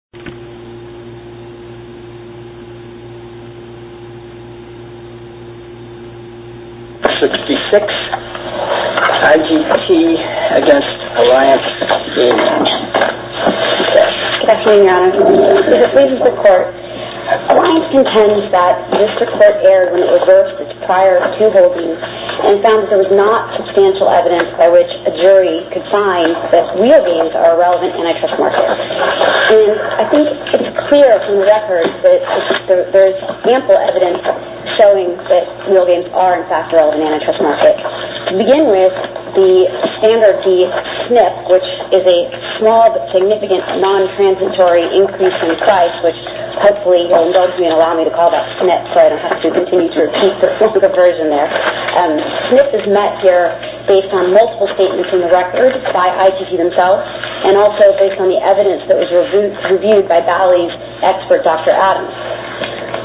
66 IGT v. ALLIANCE GAMING 66 IGT v. ALLIANCE GAMING Good afternoon, Your Honor. As it pleases the Court, Alliance contends that this report erred when it reversed its prior two holdings and found that there was not substantial evidence by which a jury could find that real games are a relevant antitrust market. And I think it's clear from the record that there is ample evidence showing that real games are in fact a relevant antitrust market. To begin with, the standard, the SNF, which is a small but significant non-transitory increase in price, which hopefully you'll indulge me and allow me to call that SNF so I don't have to continue to repeat the typical version there. SNF is met here based on multiple statements in the record by ITT themselves and also based on the evidence that was reviewed by Bali's expert, Dr. Adams.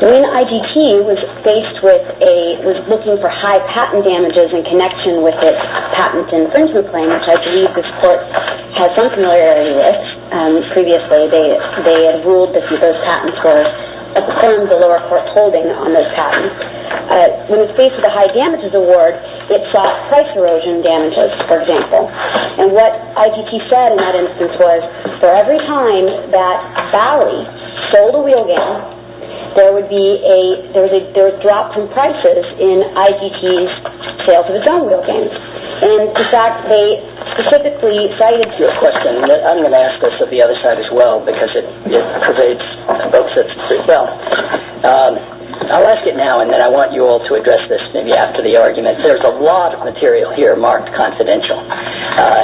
When IGT was looking for high patent damages in connection with its patent infringement claim, which I believe this Court has some familiarity with, previously they had ruled that those patent scores affirmed the lower court holding on those patents. When it faced the high damages award, it sought price erosion damages, for example. And what IGT said in that instance was, for every time that Bali sold a real game, there would be a drop in prices in IGT's sales of its own real games. And in fact, they specifically cited... I have a question. I'm going to ask this of the other side as well because it pervades both sets pretty well. I'll ask it now and then I want you all to address this maybe after the argument. There's a lot of material here marked confidential,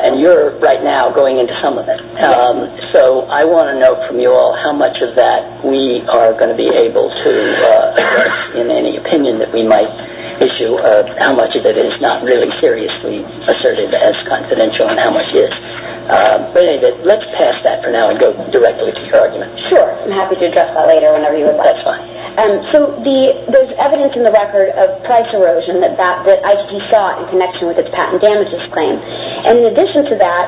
and you're right now going into some of it. So I want to know from you all how much of that we are going to be able to address in any opinion that we might issue of how much of it is not really seriously asserted as confidential and how much is. But let's pass that for now and go directly to your argument. Sure. I'm happy to address that later whenever you would like. That's fine. So there's evidence in the record of price erosion that IGT saw in connection with its patent damages claim. And in addition to that,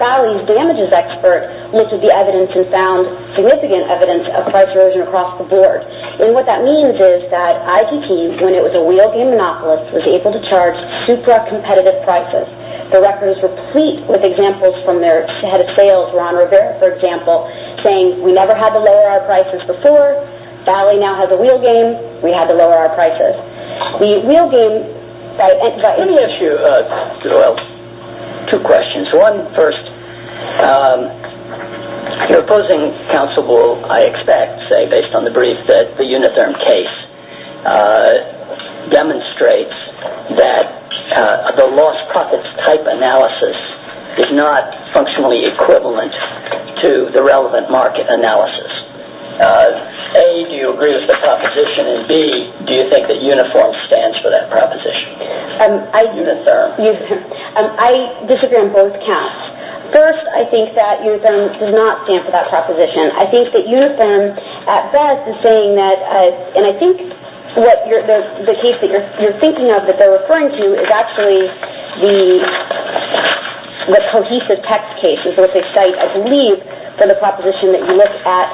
Bali's damages expert looked at the evidence and found significant evidence of price erosion across the board. And what that means is that IGT, when it was a real game monopolist, was able to charge super competitive prices. The record is replete with examples from their head of sales, Ron Rivera, for example, saying we never had to lower our prices before, Bali now has a real game, we had to lower our prices. The real game... Let me ask you two questions. One, first, your opposing counsel will, I expect, say, based on the brief that the Unitherm case demonstrates that the lost profits type analysis is not functionally equivalent to the relevant market analysis. A, do you agree with the proposition? And B, do you think that Unitherm stands for that proposition? I disagree on both counts. First, I think that Unitherm does not stand for that proposition. I think that Unitherm, at best, is saying that, and I think the case that you're thinking of that they're referring to is actually the cohesive text case. It's what they cite, I believe, for the proposition that you look at,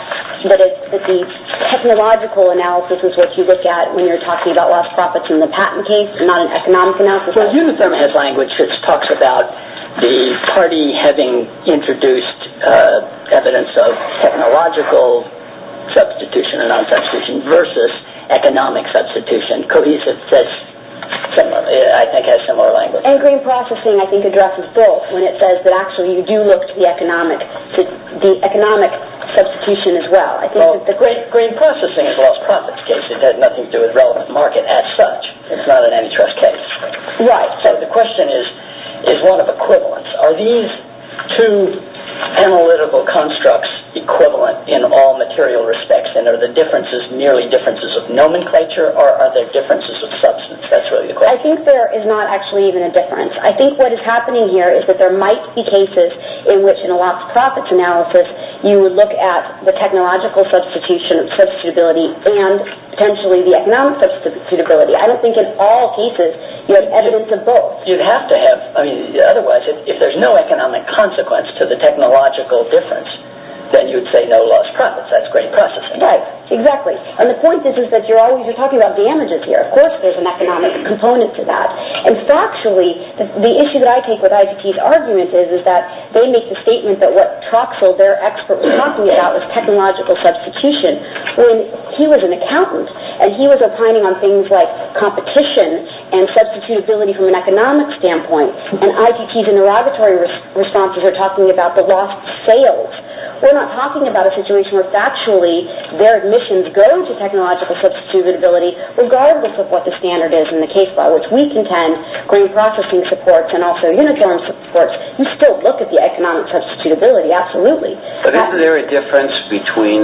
that the technological analysis is what you look at when you're talking about lost profits in the patent case, not an economic analysis. Well, Unitherm has language that talks about the party having introduced evidence of technological substitution or non-substitution versus economic substitution. Cohesive, I think, has similar language. And green processing, I think, addresses both when it says that actually you do look to the economic substitution as well. Green processing is a lost profits case. It has nothing to do with relevant market as such. It's not an antitrust case. Right. So the question is, is one of equivalence. Are these two analytical constructs equivalent in all material respects and are the differences merely differences of nomenclature or are there differences of substance? That's really the question. I think there is not actually even a difference. I think what is happening here is that there might be cases in which in a lost profits analysis you would look at the technological substitution of substitutability and potentially the economic substitutability. I don't think in all cases you have evidence of both. You'd have to have. Otherwise, if there's no economic consequence to the technological difference, then you'd say no lost profits. That's green processing. Right. Exactly. And the point is that you're always talking about damages here. Of course there's an economic component to that. And factually, the issue that I take with ITT's argument is that they make the statement that what Troxell, their expert, was talking about was technological substitution when he was an accountant and he was opining on things like competition and substitutability from an economic standpoint. And ITT's inerogatory responses are talking about the lost sales. We're not talking about a situation where factually their admissions go to technological substitutability regardless of what the standard is in the case by which we contend green processing supports and also unicorn supports. You still look at the economic substitutability, absolutely. But isn't there a difference between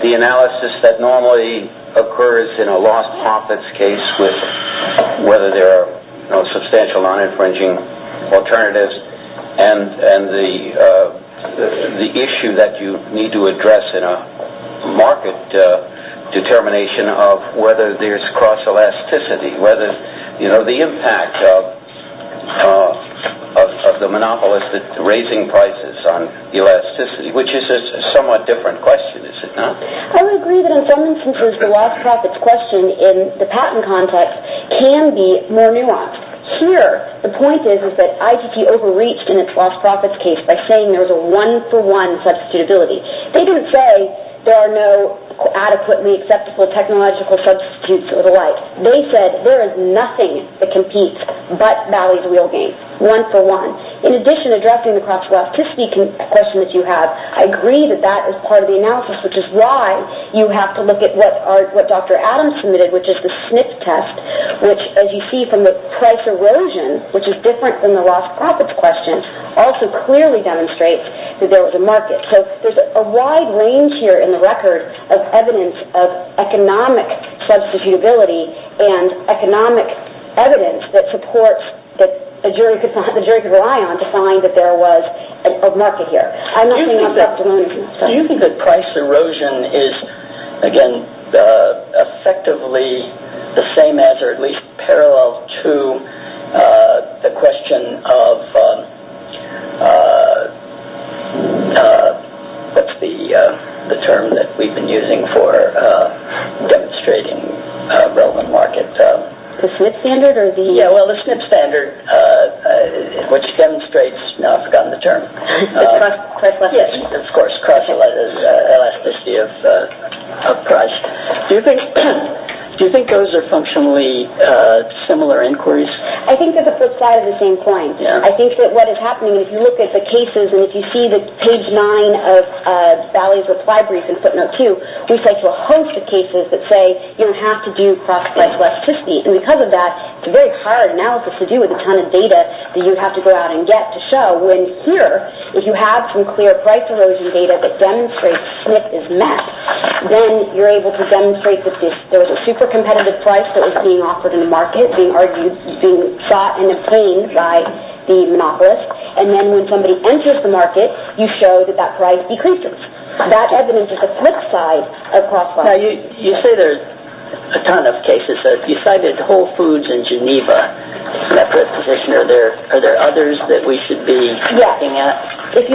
the analysis that normally occurs in a lost profits case with whether there are substantial non-infringing alternatives and the issue that you need to address in a market determination of whether there's cross-elasticity, the impact of the monopolist raising prices on elasticity, which is a somewhat different question, is it not? I would agree that in some instances the lost profits question in the patent context can be more nuanced. Here the point is that ITT overreached in its lost profits case by saying there was a one-for-one substitutability. They didn't say there are no adequately acceptable technological substitutes or the like. They said there is nothing that competes but Valley's wheel game, one-for-one. In addition, addressing the cross-elasticity question that you have, I agree that that is part of the analysis, which is why you have to look at what Dr. Adams submitted, which is the SNP test, which as you see from the price erosion, which is different than the lost profits question, also clearly demonstrates that there was a market. So there's a wide range here in the record of evidence of economic substitutability and economic evidence that supports that a jury could rely on to find that there was a market here. Do you think that price erosion is, again, effectively the same as or at least parallel to the question of what's the term that we've been using for demonstrating relevant market? The SNP standard? Yeah, well, the SNP standard, which demonstrates, now I've forgotten the term. The cross-elasticity. Yes, of course, cross-elasticity of price. Do you think those are functionally similar inquiries? I think that the flip side is the same point. I think that what is happening, if you look at the cases, and if you see the page 9 of Valley's reply brief in footnote 2, we cite a host of cases that say you don't have to do cross-elasticity. And because of that, it's a very hard analysis to do with a ton of data that you have to go out and get to show. When here, if you have some clear price erosion data that demonstrates SNP is met, then you're able to demonstrate that there was a super competitive price that was being offered in the market, being sought and obtained by the monopolist. And then when somebody enters the market, you show that that price decreases. That evidence is the flip side of cross-elasticity. You say there's a ton of cases. You cited Whole Foods in Geneva in that proposition. Are there others that we should be looking at that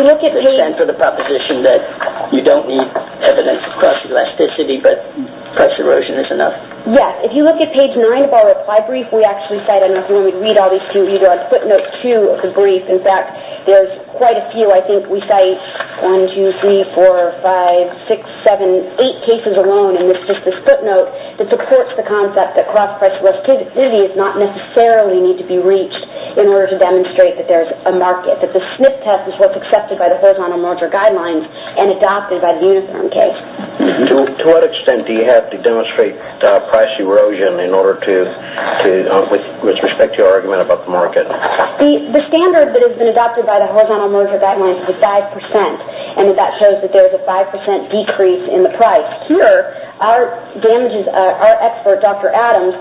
stand for the proposition that you don't need evidence of cross-elasticity but price erosion is enough? Yes, if you look at page 9 of our reply brief, we actually cite, I don't know if you want me to read all these to you, but you do on footnote 2 of the brief. In fact, there's quite a few. I think we cite 1, 2, 3, 4, 5, 6, 7, 8 cases alone, and it's just this footnote that supports the concept that cross-elasticity does not necessarily need to be reached in order to demonstrate that there's a market, that the SNP test is what's accepted by the horizontal merger guidelines and adopted by the uniform case. To what extent do you have to demonstrate price erosion with respect to your argument about the market? The standard that has been adopted by the horizontal merger guidelines is 5%, and that shows that there's a 5% decrease in the price. Here, our expert, Dr. Adams,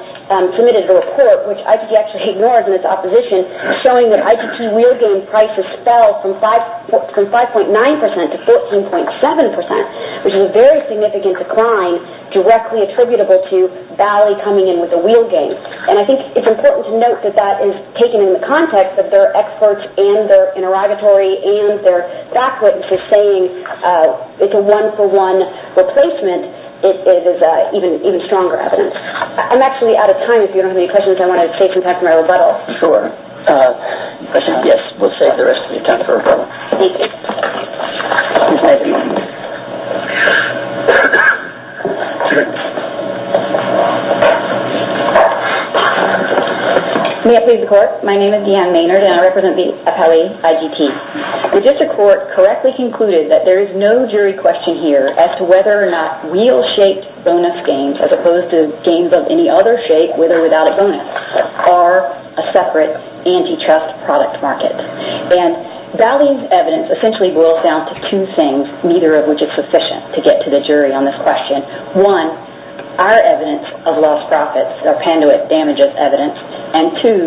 submitted a report, which IGT actually ignored in its opposition, showing that IGT wheel game prices fell from 5.9% to 14.7%, which is a very significant decline directly attributable to Valley coming in with the wheel game. I think it's important to note that that is taken in the context of their experts and their interrogatory and their backwitnesses saying it's a one-for-one replacement. It is even stronger evidence. I'm actually out of time. If you don't have any questions, I want to save some time for my rebuttal. Sure. Yes, we'll save the rest of the time for rebuttal. Thank you. May I please report? My name is Deanne Maynard, and I represent the appellee IGT. The district court correctly concluded that there is no jury question here as to whether or not wheel-shaped bonus games, as opposed to games of any other shape with or without a bonus, are a separate antitrust product market. Valley's evidence essentially boils down to two things, neither of which is sufficient to get to the jury on this question. One, our evidence of lost profits or Panduit damages evidence, and two,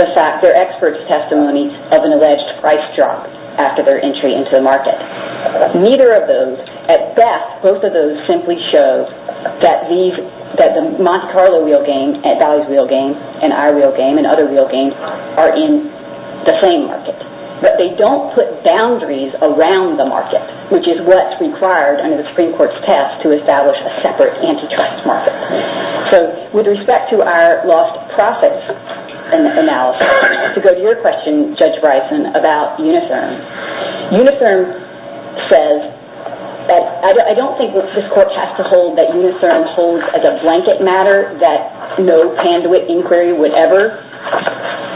their experts' testimonies of an alleged price drop after their entry into the market. Neither of those, at best, both of those simply show that the Monte Carlo wheel game and Valley's wheel game and our wheel game and other wheel games are in the same market. But they don't put boundaries around the market, which is what's required under the Supreme Court's test to establish a separate antitrust market. So, with respect to our lost profits analysis, to go to your question, Judge Bryson, about Unitherm. Unitherm says that I don't think this court has to hold that Unitherm holds as a blanket matter that no Panduit inquiry would ever,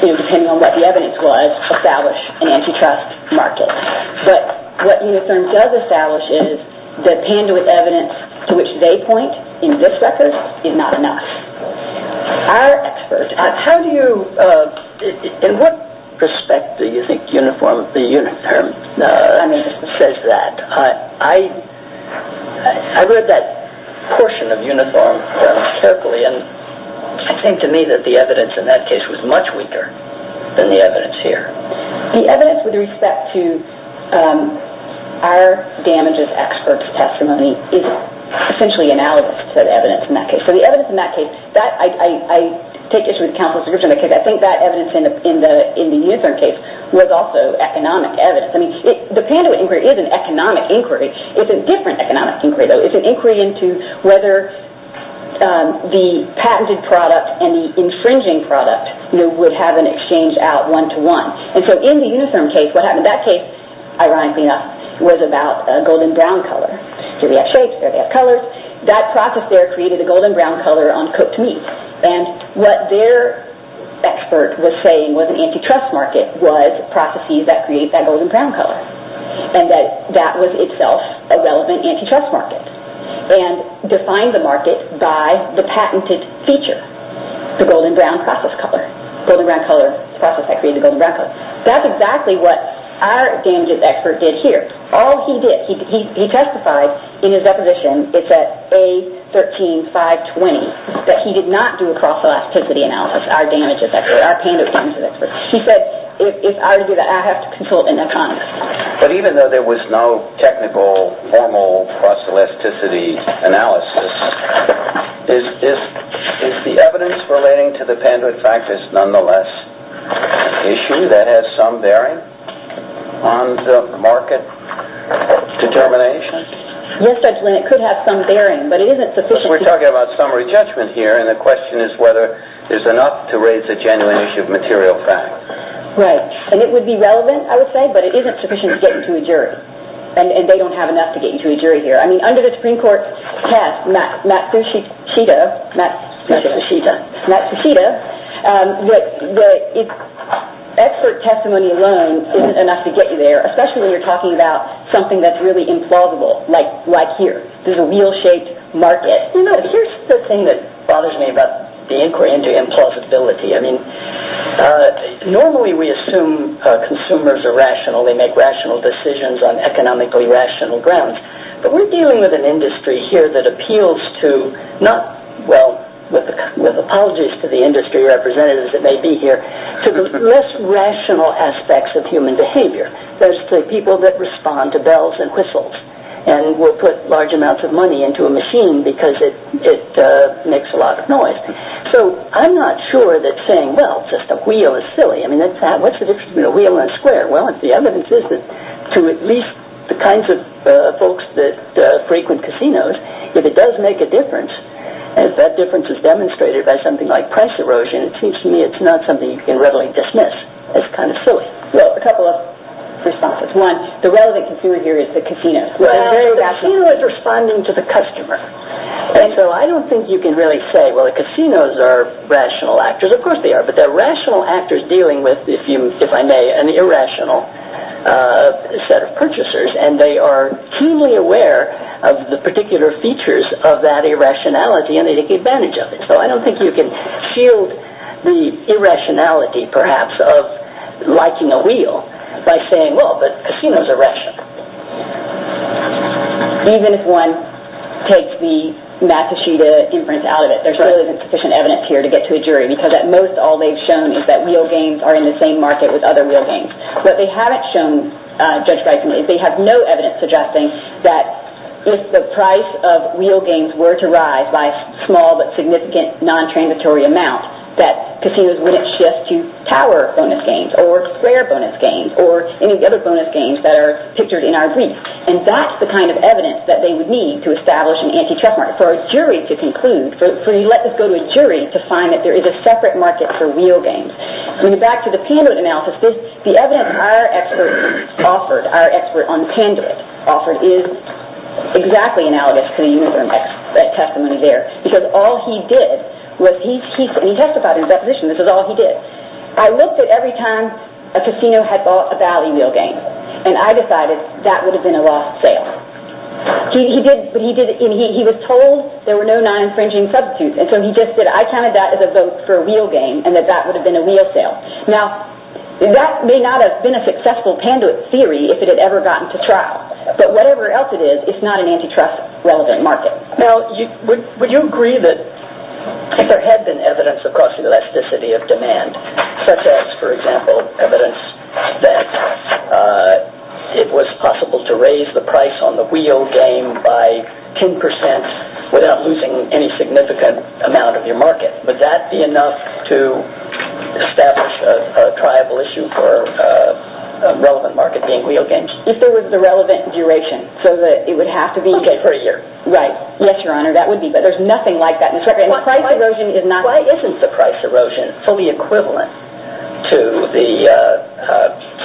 depending on what the evidence was, establish an antitrust market. But what Unitherm does establish is that Panduit evidence, to which they point in this record, is not enough. Our experts... How do you... In what respect do you think Unitherm says that? I read that portion of Unitherm carefully, and I think to me that the evidence in that case was much weaker than the evidence here. The evidence with respect to our damages experts' testimony is essentially analogous to the evidence in that case. So the evidence in that case... I take issue with counsel's description of the case. I think that evidence in the Unitherm case was also economic evidence. The Panduit inquiry is an economic inquiry. It's a different economic inquiry, though. It's an inquiry into whether the patented product and the infringing product would have an exchange out one-to-one. And so in the Unitherm case, what happened in that case, ironically enough, was about a golden-brown color. Here we have shapes, there we have colors. That process there created a golden-brown color on cooked meat. And what their expert was saying was an antitrust market was processes that create that golden-brown color, and that that was itself a relevant antitrust market and defined the market by the patented feature, the golden-brown process color. The golden-brown color process that created the golden-brown color. That's exactly what our damages expert did here. All he did, he testified in his deposition, it's at A13520, that he did not do a cross-elasticity analysis, our damages expert, our Panduit damages expert. He said, if I were to do that, I'd have to consult an economist. But even though there was no technical, formal cross-elasticity analysis, is the evidence relating to the Panduit fact is nonetheless an issue that has some bearing on the market determination? Yes, Judge Lin, it could have some bearing, but it isn't sufficient... We're talking about summary judgment here, and the question is whether there's enough to raise a genuine issue of material fact. Right, and it would be relevant, I would say, but it isn't sufficient to get into a jury, and they don't have enough to get you to a jury here. I mean, under the Supreme Court test, Matsushita, expert testimony alone isn't enough to get you there, especially when you're talking about something that's really implausible, like here. There's a wheel-shaped market. Here's the thing that bothers me about the inquiry into implausibility. I mean, normally we assume consumers are rational. They make rational decisions on economically rational grounds. But we're dealing with an industry here that appeals to, not, well, with apologies to the industry representatives that may be here, to the less rational aspects of human behavior. Those are the people that respond to bells and whistles, and will put large amounts of money into a machine because it makes a lot of noise. So I'm not sure that saying, well, just a wheel is silly. I mean, what's the difference between a wheel and a square? Well, the evidence is that to at least the kinds of folks that frequent casinos, if it does make a difference, and if that difference is demonstrated by something like price erosion, it seems to me it's not something you can readily dismiss as kind of silly. Well, a couple of responses. One, the relevant consumer here is the casino. Well, the casino is responding to the customer. And so I don't think you can really say, well, the casinos are rational actors. Of course they are, but they're rational actors dealing with, if I may, an irrational set of purchasers, and they are keenly aware of the particular features of that irrationality and they take advantage of it. So I don't think you can shield the irrationality, perhaps, of liking a wheel by saying, well, but casinos are rational. Even if one takes the Massachusetts inference out of it, there still isn't sufficient evidence here to get to a jury because at most all they've shown is that wheel games are in the same market with other wheel games. What they haven't shown, Judge Bison, is they have no evidence suggesting that if the price of wheel games were to rise by a small but significant non-transitory amount, that casinos wouldn't shift to tower bonus games or square bonus games or any other bonus games that are pictured in our briefs. And that's the kind of evidence that they would need to establish an anti-trust market for a jury to conclude, for you to let this go to a jury to find that there is a separate market for wheel games. Going back to the Panduit analysis, the evidence our expert offered, our expert on Panduit offered, is exactly analogous to the Uniform Testimony there because all he did was he testified in his deposition, this is all he did. I looked at every time a casino had bought a valley wheel game and I decided that would have been a lost sale. He was told there were no non-infringing substitutes and so he just said, I counted that as a vote for a wheel game and that that would have been a wheel sale. Now, that may not have been a successful Panduit theory if it had ever gotten to trial, but whatever else it is, it's not an anti-trust relevant market. Now, would you agree that if there had been evidence of cross-elasticity of demand, such as, for example, evidence that it was possible to raise the price on the wheel game by 10% without losing any significant amount of your market, would that be enough to establish a triable issue for a relevant market being wheel games? If there was a relevant duration, so that it would have to be... Okay, for a year. Right. Yes, Your Honor, that would be, but there's nothing like that. Why isn't the price erosion fully equivalent to the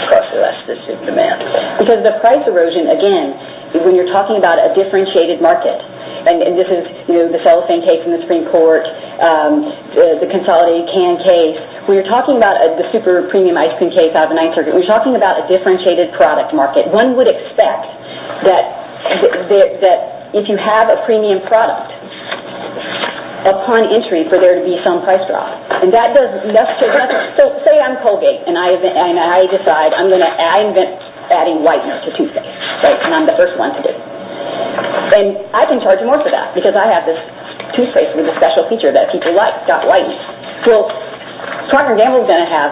cross-elasticity of demand? Because the price erosion, again, when you're talking about a differentiated market, and this is the cellophane case in the Supreme Court, the consolidated can case, when you're talking about the super premium ice cream case out of the 1930s, when you're talking about a differentiated product market, one would expect that if you have a premium product, upon entry, for there to be some price drop. Say I'm Colgate, and I decide I'm going to invent adding whitener to toothpaste. And I'm the first one to do it. And I can charge more for that, because I have this toothpaste with a special feature that people like, got whitening. Well, Parker & Gamble is going to have...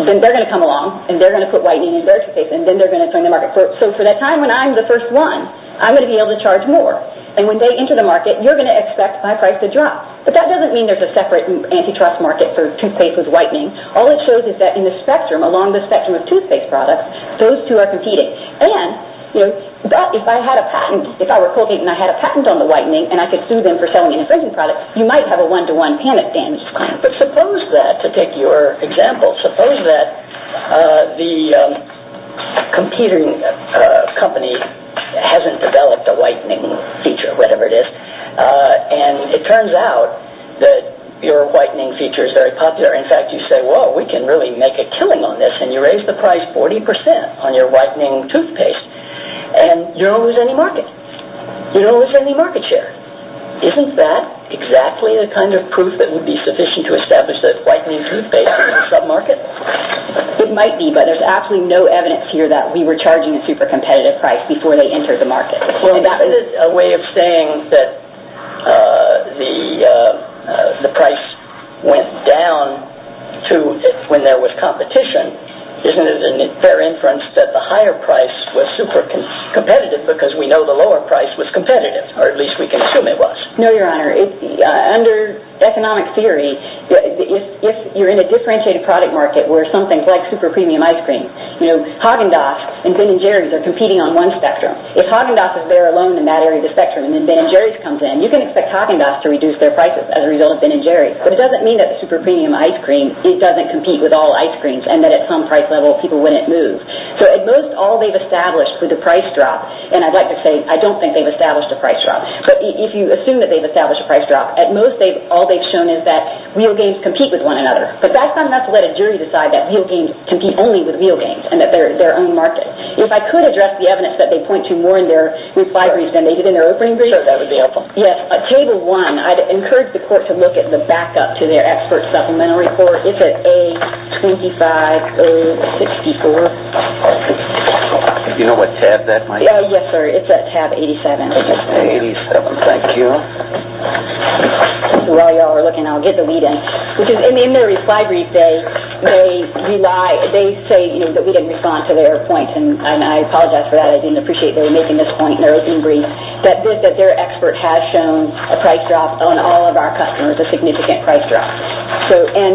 They're going to come along, and they're going to put whitening in their toothpaste, and then they're going to turn the market. So for that time when I'm the first one, I'm going to be able to charge more. And when they enter the market, you're going to expect my price to drop. But that doesn't mean there's a separate antitrust market for toothpaste with whitening. All it shows is that in the spectrum, along the spectrum of toothpaste products, those two are competing. And if I had a patent, if I were Colgate and I had a patent on the whitening, and I could sue them for selling an infringing product, you might have a one-to-one panic damage claim. But suppose that, to take your example, suppose that the competing company hasn't developed a whitening feature, whatever it is, and it turns out that your whitening feature is very popular. In fact, you say, whoa, we can really make a killing on this, and you raise the price 40% on your whitening toothpaste, and you don't lose any market. You don't lose any market share. Isn't that exactly the kind of proof that would be sufficient to establish that whitening toothpaste is a sub-market? It might be, but there's absolutely no evidence here that we were charging a super-competitive price before they entered the market. Well, that is a way of saying that the price went down when there was competition. Isn't it a fair inference that the higher price was super-competitive because we know the lower price was competitive, or at least we can assume it was? No, Your Honor. Under economic theory, if you're in a differentiated product market where something like super-premium ice cream, Haagen-Dazs and Ben & Jerry's are competing on one spectrum. If Haagen-Dazs is there alone in that area of the spectrum, and then Ben & Jerry's comes in, you can expect Haagen-Dazs to reduce their prices as a result of Ben & Jerry's. But it doesn't mean that the super-premium ice cream doesn't compete with all ice creams, and that at some price level, people wouldn't move. So at most, all they've established with the price drop, and I'd like to say I don't think they've established a price drop, but if you assume that they've established a price drop, at most all they've shown is that real games compete with one another. But that's not enough to let a jury decide that real games compete only with real games and that they're their own market. If I could address the evidence that they point to more in their reply brief than they did in their opening brief. Sure, that would be helpful. Yes. Table 1, I'd encourage the court to look at the backup to their expert supplementary report. It's at A25064. Do you know what tab that might be? Yes, sir. It's at tab 87. 87, thank you. While you all are looking, I'll get the lead in. In their reply brief, they say that we didn't respond to their point, and I apologize for that. I didn't appreciate they were making this point in their opening brief, that their expert has shown a price drop on all of our customers, a significant price drop. And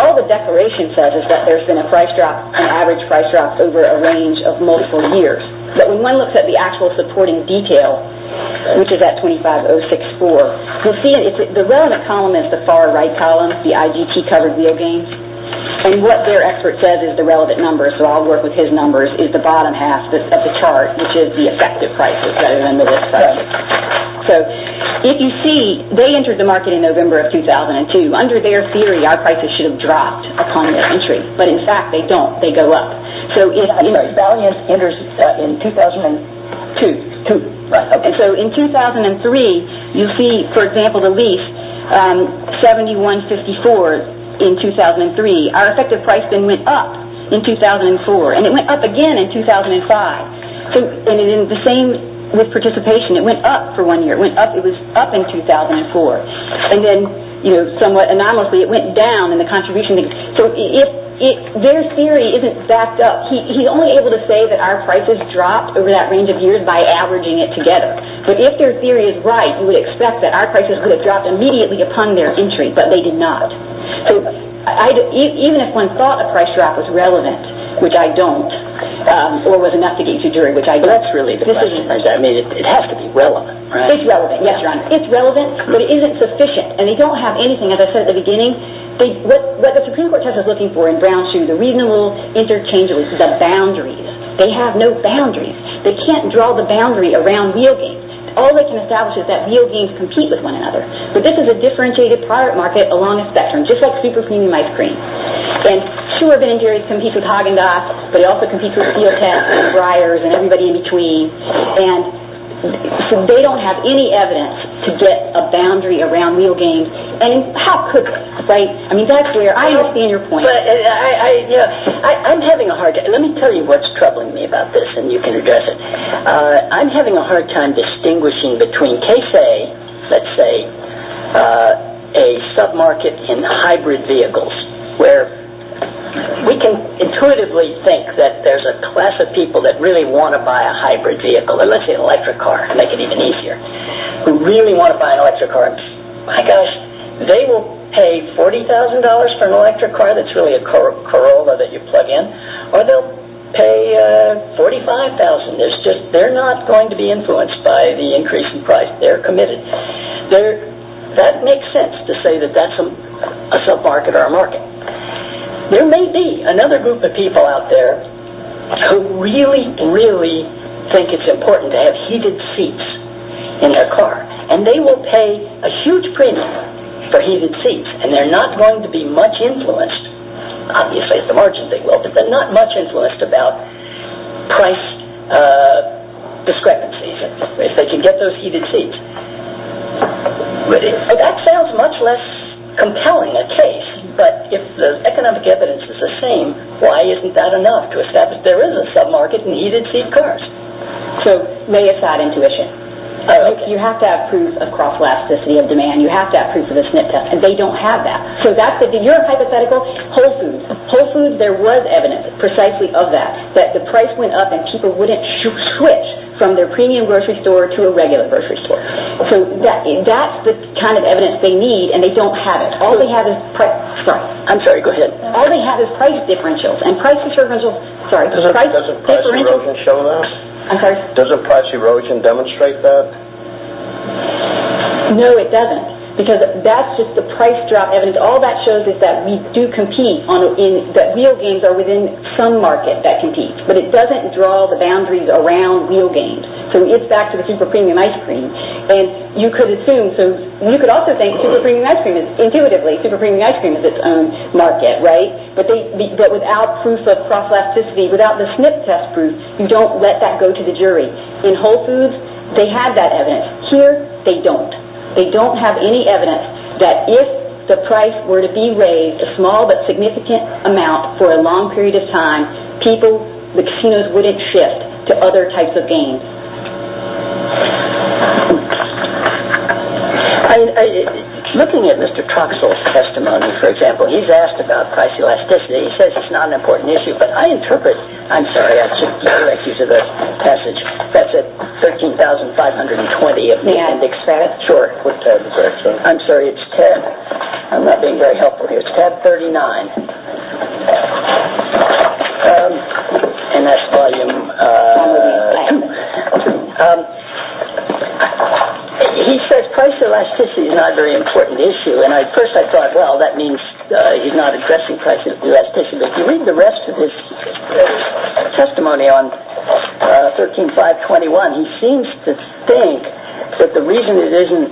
all the declaration says is that there's been a price drop, an average price drop over a range of multiple years. But when one looks at the actual supporting detail, which is at A25064, you'll see the relevant column is the far right column, the IGP-covered real gains. And what their expert says is the relevant numbers, so I'll work with his numbers, is the bottom half of the chart, which is the effective prices rather than the risk side. So if you see, they entered the market in November of 2002. Under their theory, our prices should have dropped upon their entry. But, in fact, they don't. They go up. Valiance enters in 2002. So in 2003, you see, for example, the LEAF 7154 in 2003. Our effective price then went up in 2004. And it went up again in 2005. And the same with participation. It went up for one year. It was up in 2004. And then, somewhat anomalously, it went down in the contribution. Their theory isn't backed up. He's only able to say that our prices dropped over that range of years by averaging it together. But if their theory is right, you would expect that our prices would have dropped immediately upon their entry, but they did not. So even if one thought a price drop was relevant, which I don't, or was enough to get you to jury, which I do. But that's really the question. I mean, it has to be relevant, right? It's relevant, yes, Your Honor. And they don't have anything, as I said at the beginning. What the Supreme Court test is looking for in Brown v. Shoe is a reasonable interchangeability. It's a boundary. They have no boundaries. They can't draw the boundary around wheel games. All they can establish is that wheel games compete with one another. But this is a differentiated product market along a spectrum, just like super-cream and ice cream. And sure, Ben & Jerry's competes with Haagen-Dazs, but it also competes with Steel Test and Breyers and everybody in between. And so they don't have any evidence to get a boundary around wheel games. And how could, right? I mean, that's where I understand your point. I'm having a hard time. Let me tell you what's troubling me about this, and you can address it. I'm having a hard time distinguishing between, let's say, a sub-market in hybrid vehicles, where we can intuitively think that there's a class of people that really want to buy a hybrid vehicle, let's say an electric car, to make it even easier, who really want to buy an electric car. My gosh, they will pay $40,000 for an electric car, that's really a Corolla that you plug in, or they'll pay $45,000. They're not going to be influenced by the increase in price. They're committed. That makes sense to say that that's a sub-market or a market. There may be another group of people out there who really, really think it's important to have heated seats in their car, and they will pay a huge premium for heated seats, and they're not going to be much influenced, obviously at the margins they will, but they're not much influenced about price discrepancies, if they can get those heated seats. That sounds much less compelling a case, but if the economic evidence is the same, why isn't that enough to establish there is a sub-market in heated seat cars? So, may use that intuition. You have to have proof of cross-elasticity of demand, you have to have proof of a SNP test, and they don't have that. So, that's your hypothetical, whole foods. Whole foods, there was evidence precisely of that, that the price went up and people wouldn't switch from their premium grocery store to a regular grocery store. So, that's the kind of evidence they need, and they don't have it. All they have is price differentials, Doesn't price erosion show that? I'm sorry? Doesn't price erosion demonstrate that? No, it doesn't, because that's just the price drop evidence. All that shows is that we do compete, that wheel games are within some market that competes, but it doesn't draw the boundaries around wheel games. So, it's back to the super premium ice cream, and you could assume, so you could also think super premium ice cream is, intuitively, super premium ice cream is its own market, right? But without proof of cross-elasticity, without the SNP test proof, you don't let that go to the jury. In whole foods, they have that evidence. Here, they don't. They don't have any evidence that if the price were to be raised a small but significant amount for a long period of time, people, the casinos wouldn't shift to other types of games. Looking at Mr. Troxell's testimony, for example, he's asked about price elasticity. He says it's not an important issue, but I interpret... I'm sorry, I should redirect you to the passage. That's at 13,520. May I? Sure. I'm sorry, it's tab... I'm not being very helpful here. It's tab 39. And that's volume... He says price elasticity is not a very important issue, and at first I thought, well, that means he's not addressing price elasticity. But if you read the rest of his testimony on 13,521, he seems to think that the reason it isn't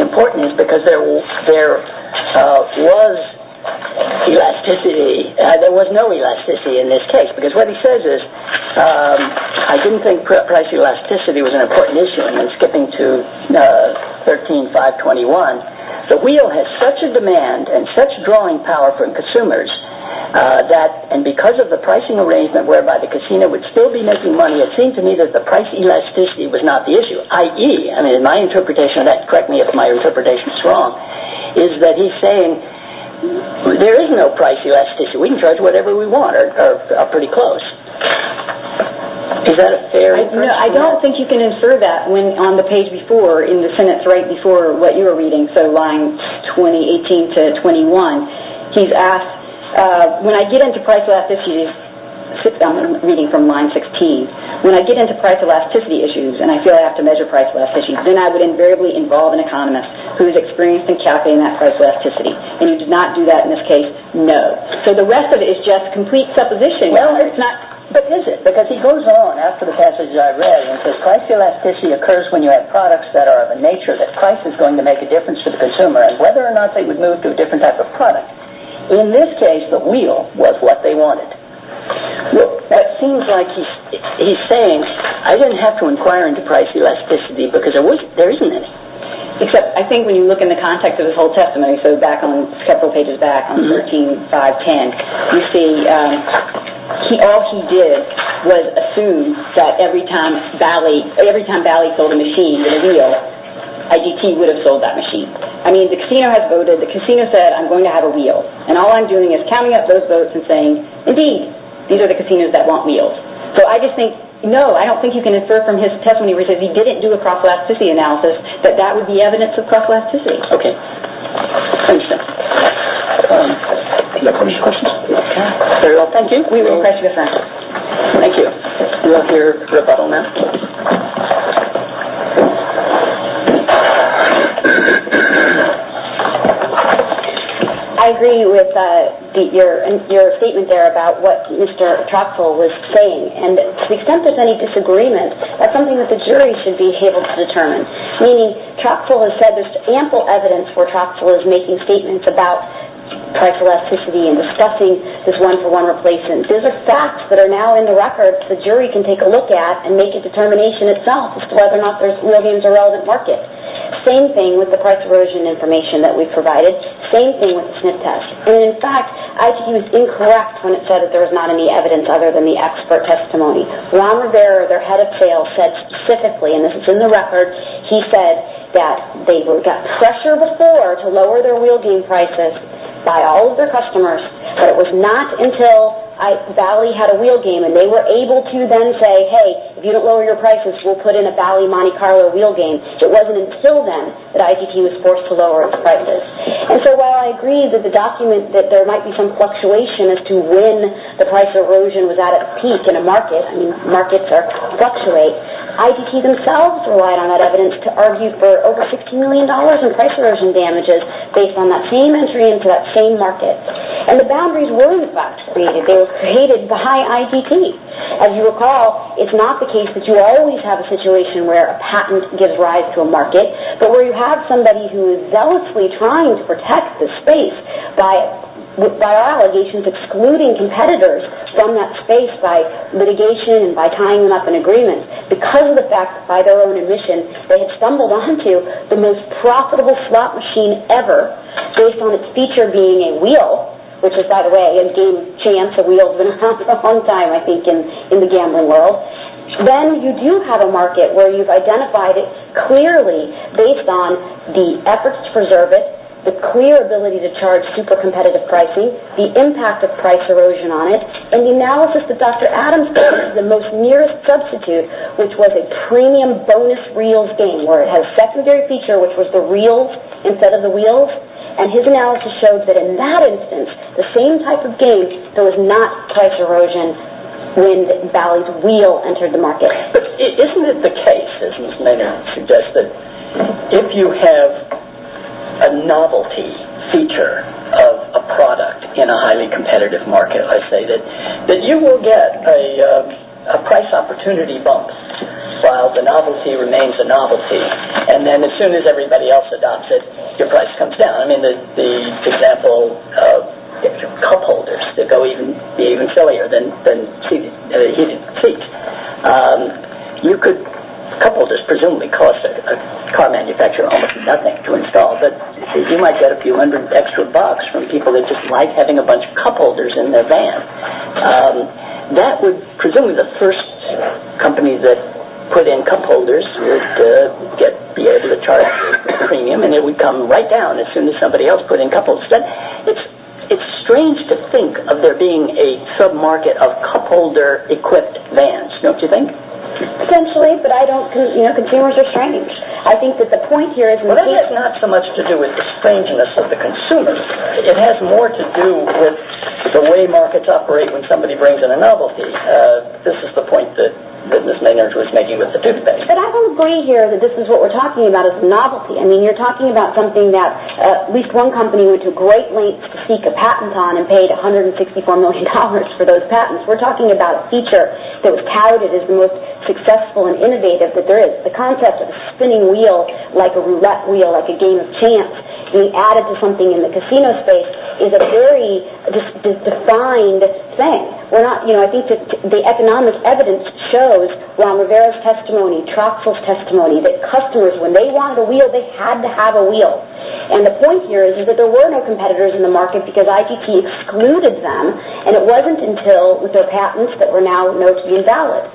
important is because there was elasticity. There was no elasticity in this case, because what he says is, I didn't think price elasticity was an important issue. Skipping to 13,521, the wheel has such a demand and such drawing power from consumers that, and because of the pricing arrangement whereby the casino would still be making money, it seemed to me that the price elasticity was not the issue, i.e., my interpretation of that, correct me if my interpretation is wrong, is that he's saying there is no price elasticity. We can charge whatever we want, or pretty close. Is that a fair... No, I don't think you can infer that on the page before, in the sentence right before what you were reading, so line 18 to 21. He's asked, when I get into price elasticity, I'm reading from line 16, when I get into price elasticity issues and I feel I have to measure price elasticity, then I would invariably involve an economist who is experienced in calculating that price elasticity. And he did not do that in this case, no. So the rest of it is just complete supposition. But is it? Because he goes on after the passage I read and says price elasticity occurs when you have products that are of a nature that price is going to make a difference for the consumer, and whether or not they would move to a different type of product. In this case, the wheel was what they wanted. Well, that seems like he's saying I didn't have to inquire into price elasticity because there isn't any. Except, I think when you look in the context of this whole testimony, so back on, several pages back, on 13, 5, 10, you see all he did was assume that every time Bally sold a machine and a wheel, IGT would have sold that machine. I mean, the casino has voted. The casino said, I'm going to have a wheel. And all I'm doing is counting up those votes and saying, indeed, these are the casinos that want wheels. So I just think, no, I don't think you can infer from his testimony where he says he didn't do a price elasticity analysis that that would be evidence of price elasticity. Okay. I understand. Any other questions? Okay. Thank you. Thank you. We'll hear rebuttal now. I agree with your statement there about what Mr. Troxel was saying. And to the extent there's any disagreement, that's something that the jury should be able to determine. Meaning, Troxel has said there's ample evidence where Troxel is making statements about price elasticity and discussing this one-for-one replacement. These are facts that are now in the record the jury can take a look at and make a determination itself as to whether or not there's Williams or relevant market. Same thing with the price erosion information that we provided. Same thing with the SNF test. And in fact, IGT was incorrect when it said that there was not any evidence other than the expert testimony. Ron Rivera, their head of sales, said specifically, and this is in the record, he said that they got pressure before to lower their wheel game prices by all of their customers, but it was not until Valley had a wheel game and they were able to then say, hey, if you don't lower your prices, we'll put in a Valley Monte Carlo wheel game. It wasn't until then that IGT was forced to lower its prices. And so while I agree that the document that there might be some fluctuation as to when the price erosion was at a peak in a market, I mean, markets fluctuate, IGT themselves relied on that evidence to argue for over $60 million in price erosion damages based on that same entry into that same market. And the boundaries were in fact created. They were created by IGT. As you recall, it's not the case that you always have a situation where a patent gives rise to a market, but where you have somebody who is zealously trying to protect the space by allegations excluding competitors from that space by litigation and by tying them up in agreements. Because of the fact, by their own admission, they had stumbled onto the most profitable slot machine ever based on its feature being a wheel, which is, by the way, a game chance. A wheel's been around for a long time, I think, in the gambling world. Then you do have a market where you've identified it clearly based on the efforts to preserve it, the clear ability to charge super competitive pricing, the impact of price erosion on it, and the analysis that Dr. Adams gave is the most nearest substitute, which was a premium bonus reels game where it has a secondary feature, which was the reels instead of the wheels. And his analysis showed that in that instance, the same type of game, there was not price erosion when Bally's wheel entered the market. Isn't it the case, as Ms. Maynard suggested, if you have a novelty feature of a product in a highly competitive market, I say that you will get a price opportunity bump while the novelty remains a novelty. And then as soon as everybody else adopts it, your price comes down. I mean, the example of cupholders that go even sillier than heated seats. You could, cupholders presumably cost a car manufacturer almost nothing to install, but you might get a few hundred extra bucks from people that just like having a bunch of cupholders in their van. That would, presumably, the first company that put in cupholders would be able to charge a premium and it would come right down as soon as somebody else put in cupholders. But it's strange to think of there being a sub-market of cupholder-equipped vans, don't you think? Potentially, but consumers are strange. I think that the point here is... Well, that has not so much to do with the strangeness of the consumers. It has more to do with the way markets operate when somebody brings in a novelty. This is the point that Ms. Maynard was making with the toothpaste. But I don't agree here that this is what we're talking about is novelty. I mean, you're talking about something that at least one company went to great lengths to seek a patent on and paid $164 million for those patents. We're talking about a feature that was touted as the most successful and innovative that there is. The concept of a spinning wheel like a roulette wheel, like a game of chance. When you add it to something in the casino space, it's a very defined thing. I think the economic evidence shows Ron Rivera's testimony, Troxel's testimony, that customers, when they wanted a wheel, they had to have a wheel. And the point here is that there were no competitors in the market because ITT excluded them. And it wasn't until their patents that were now known to be invalid.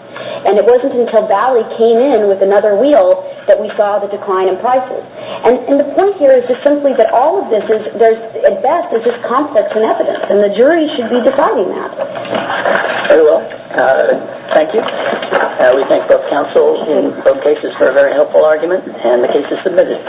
And it wasn't until Bally came in with another wheel that we saw the decline in prices. And the point here is just simply that all of this, at best, is just conflicts in evidence. And the jury should be deciding that. Very well. Thank you. We thank both counsels in both cases for a very helpful argument. And the case is submitted.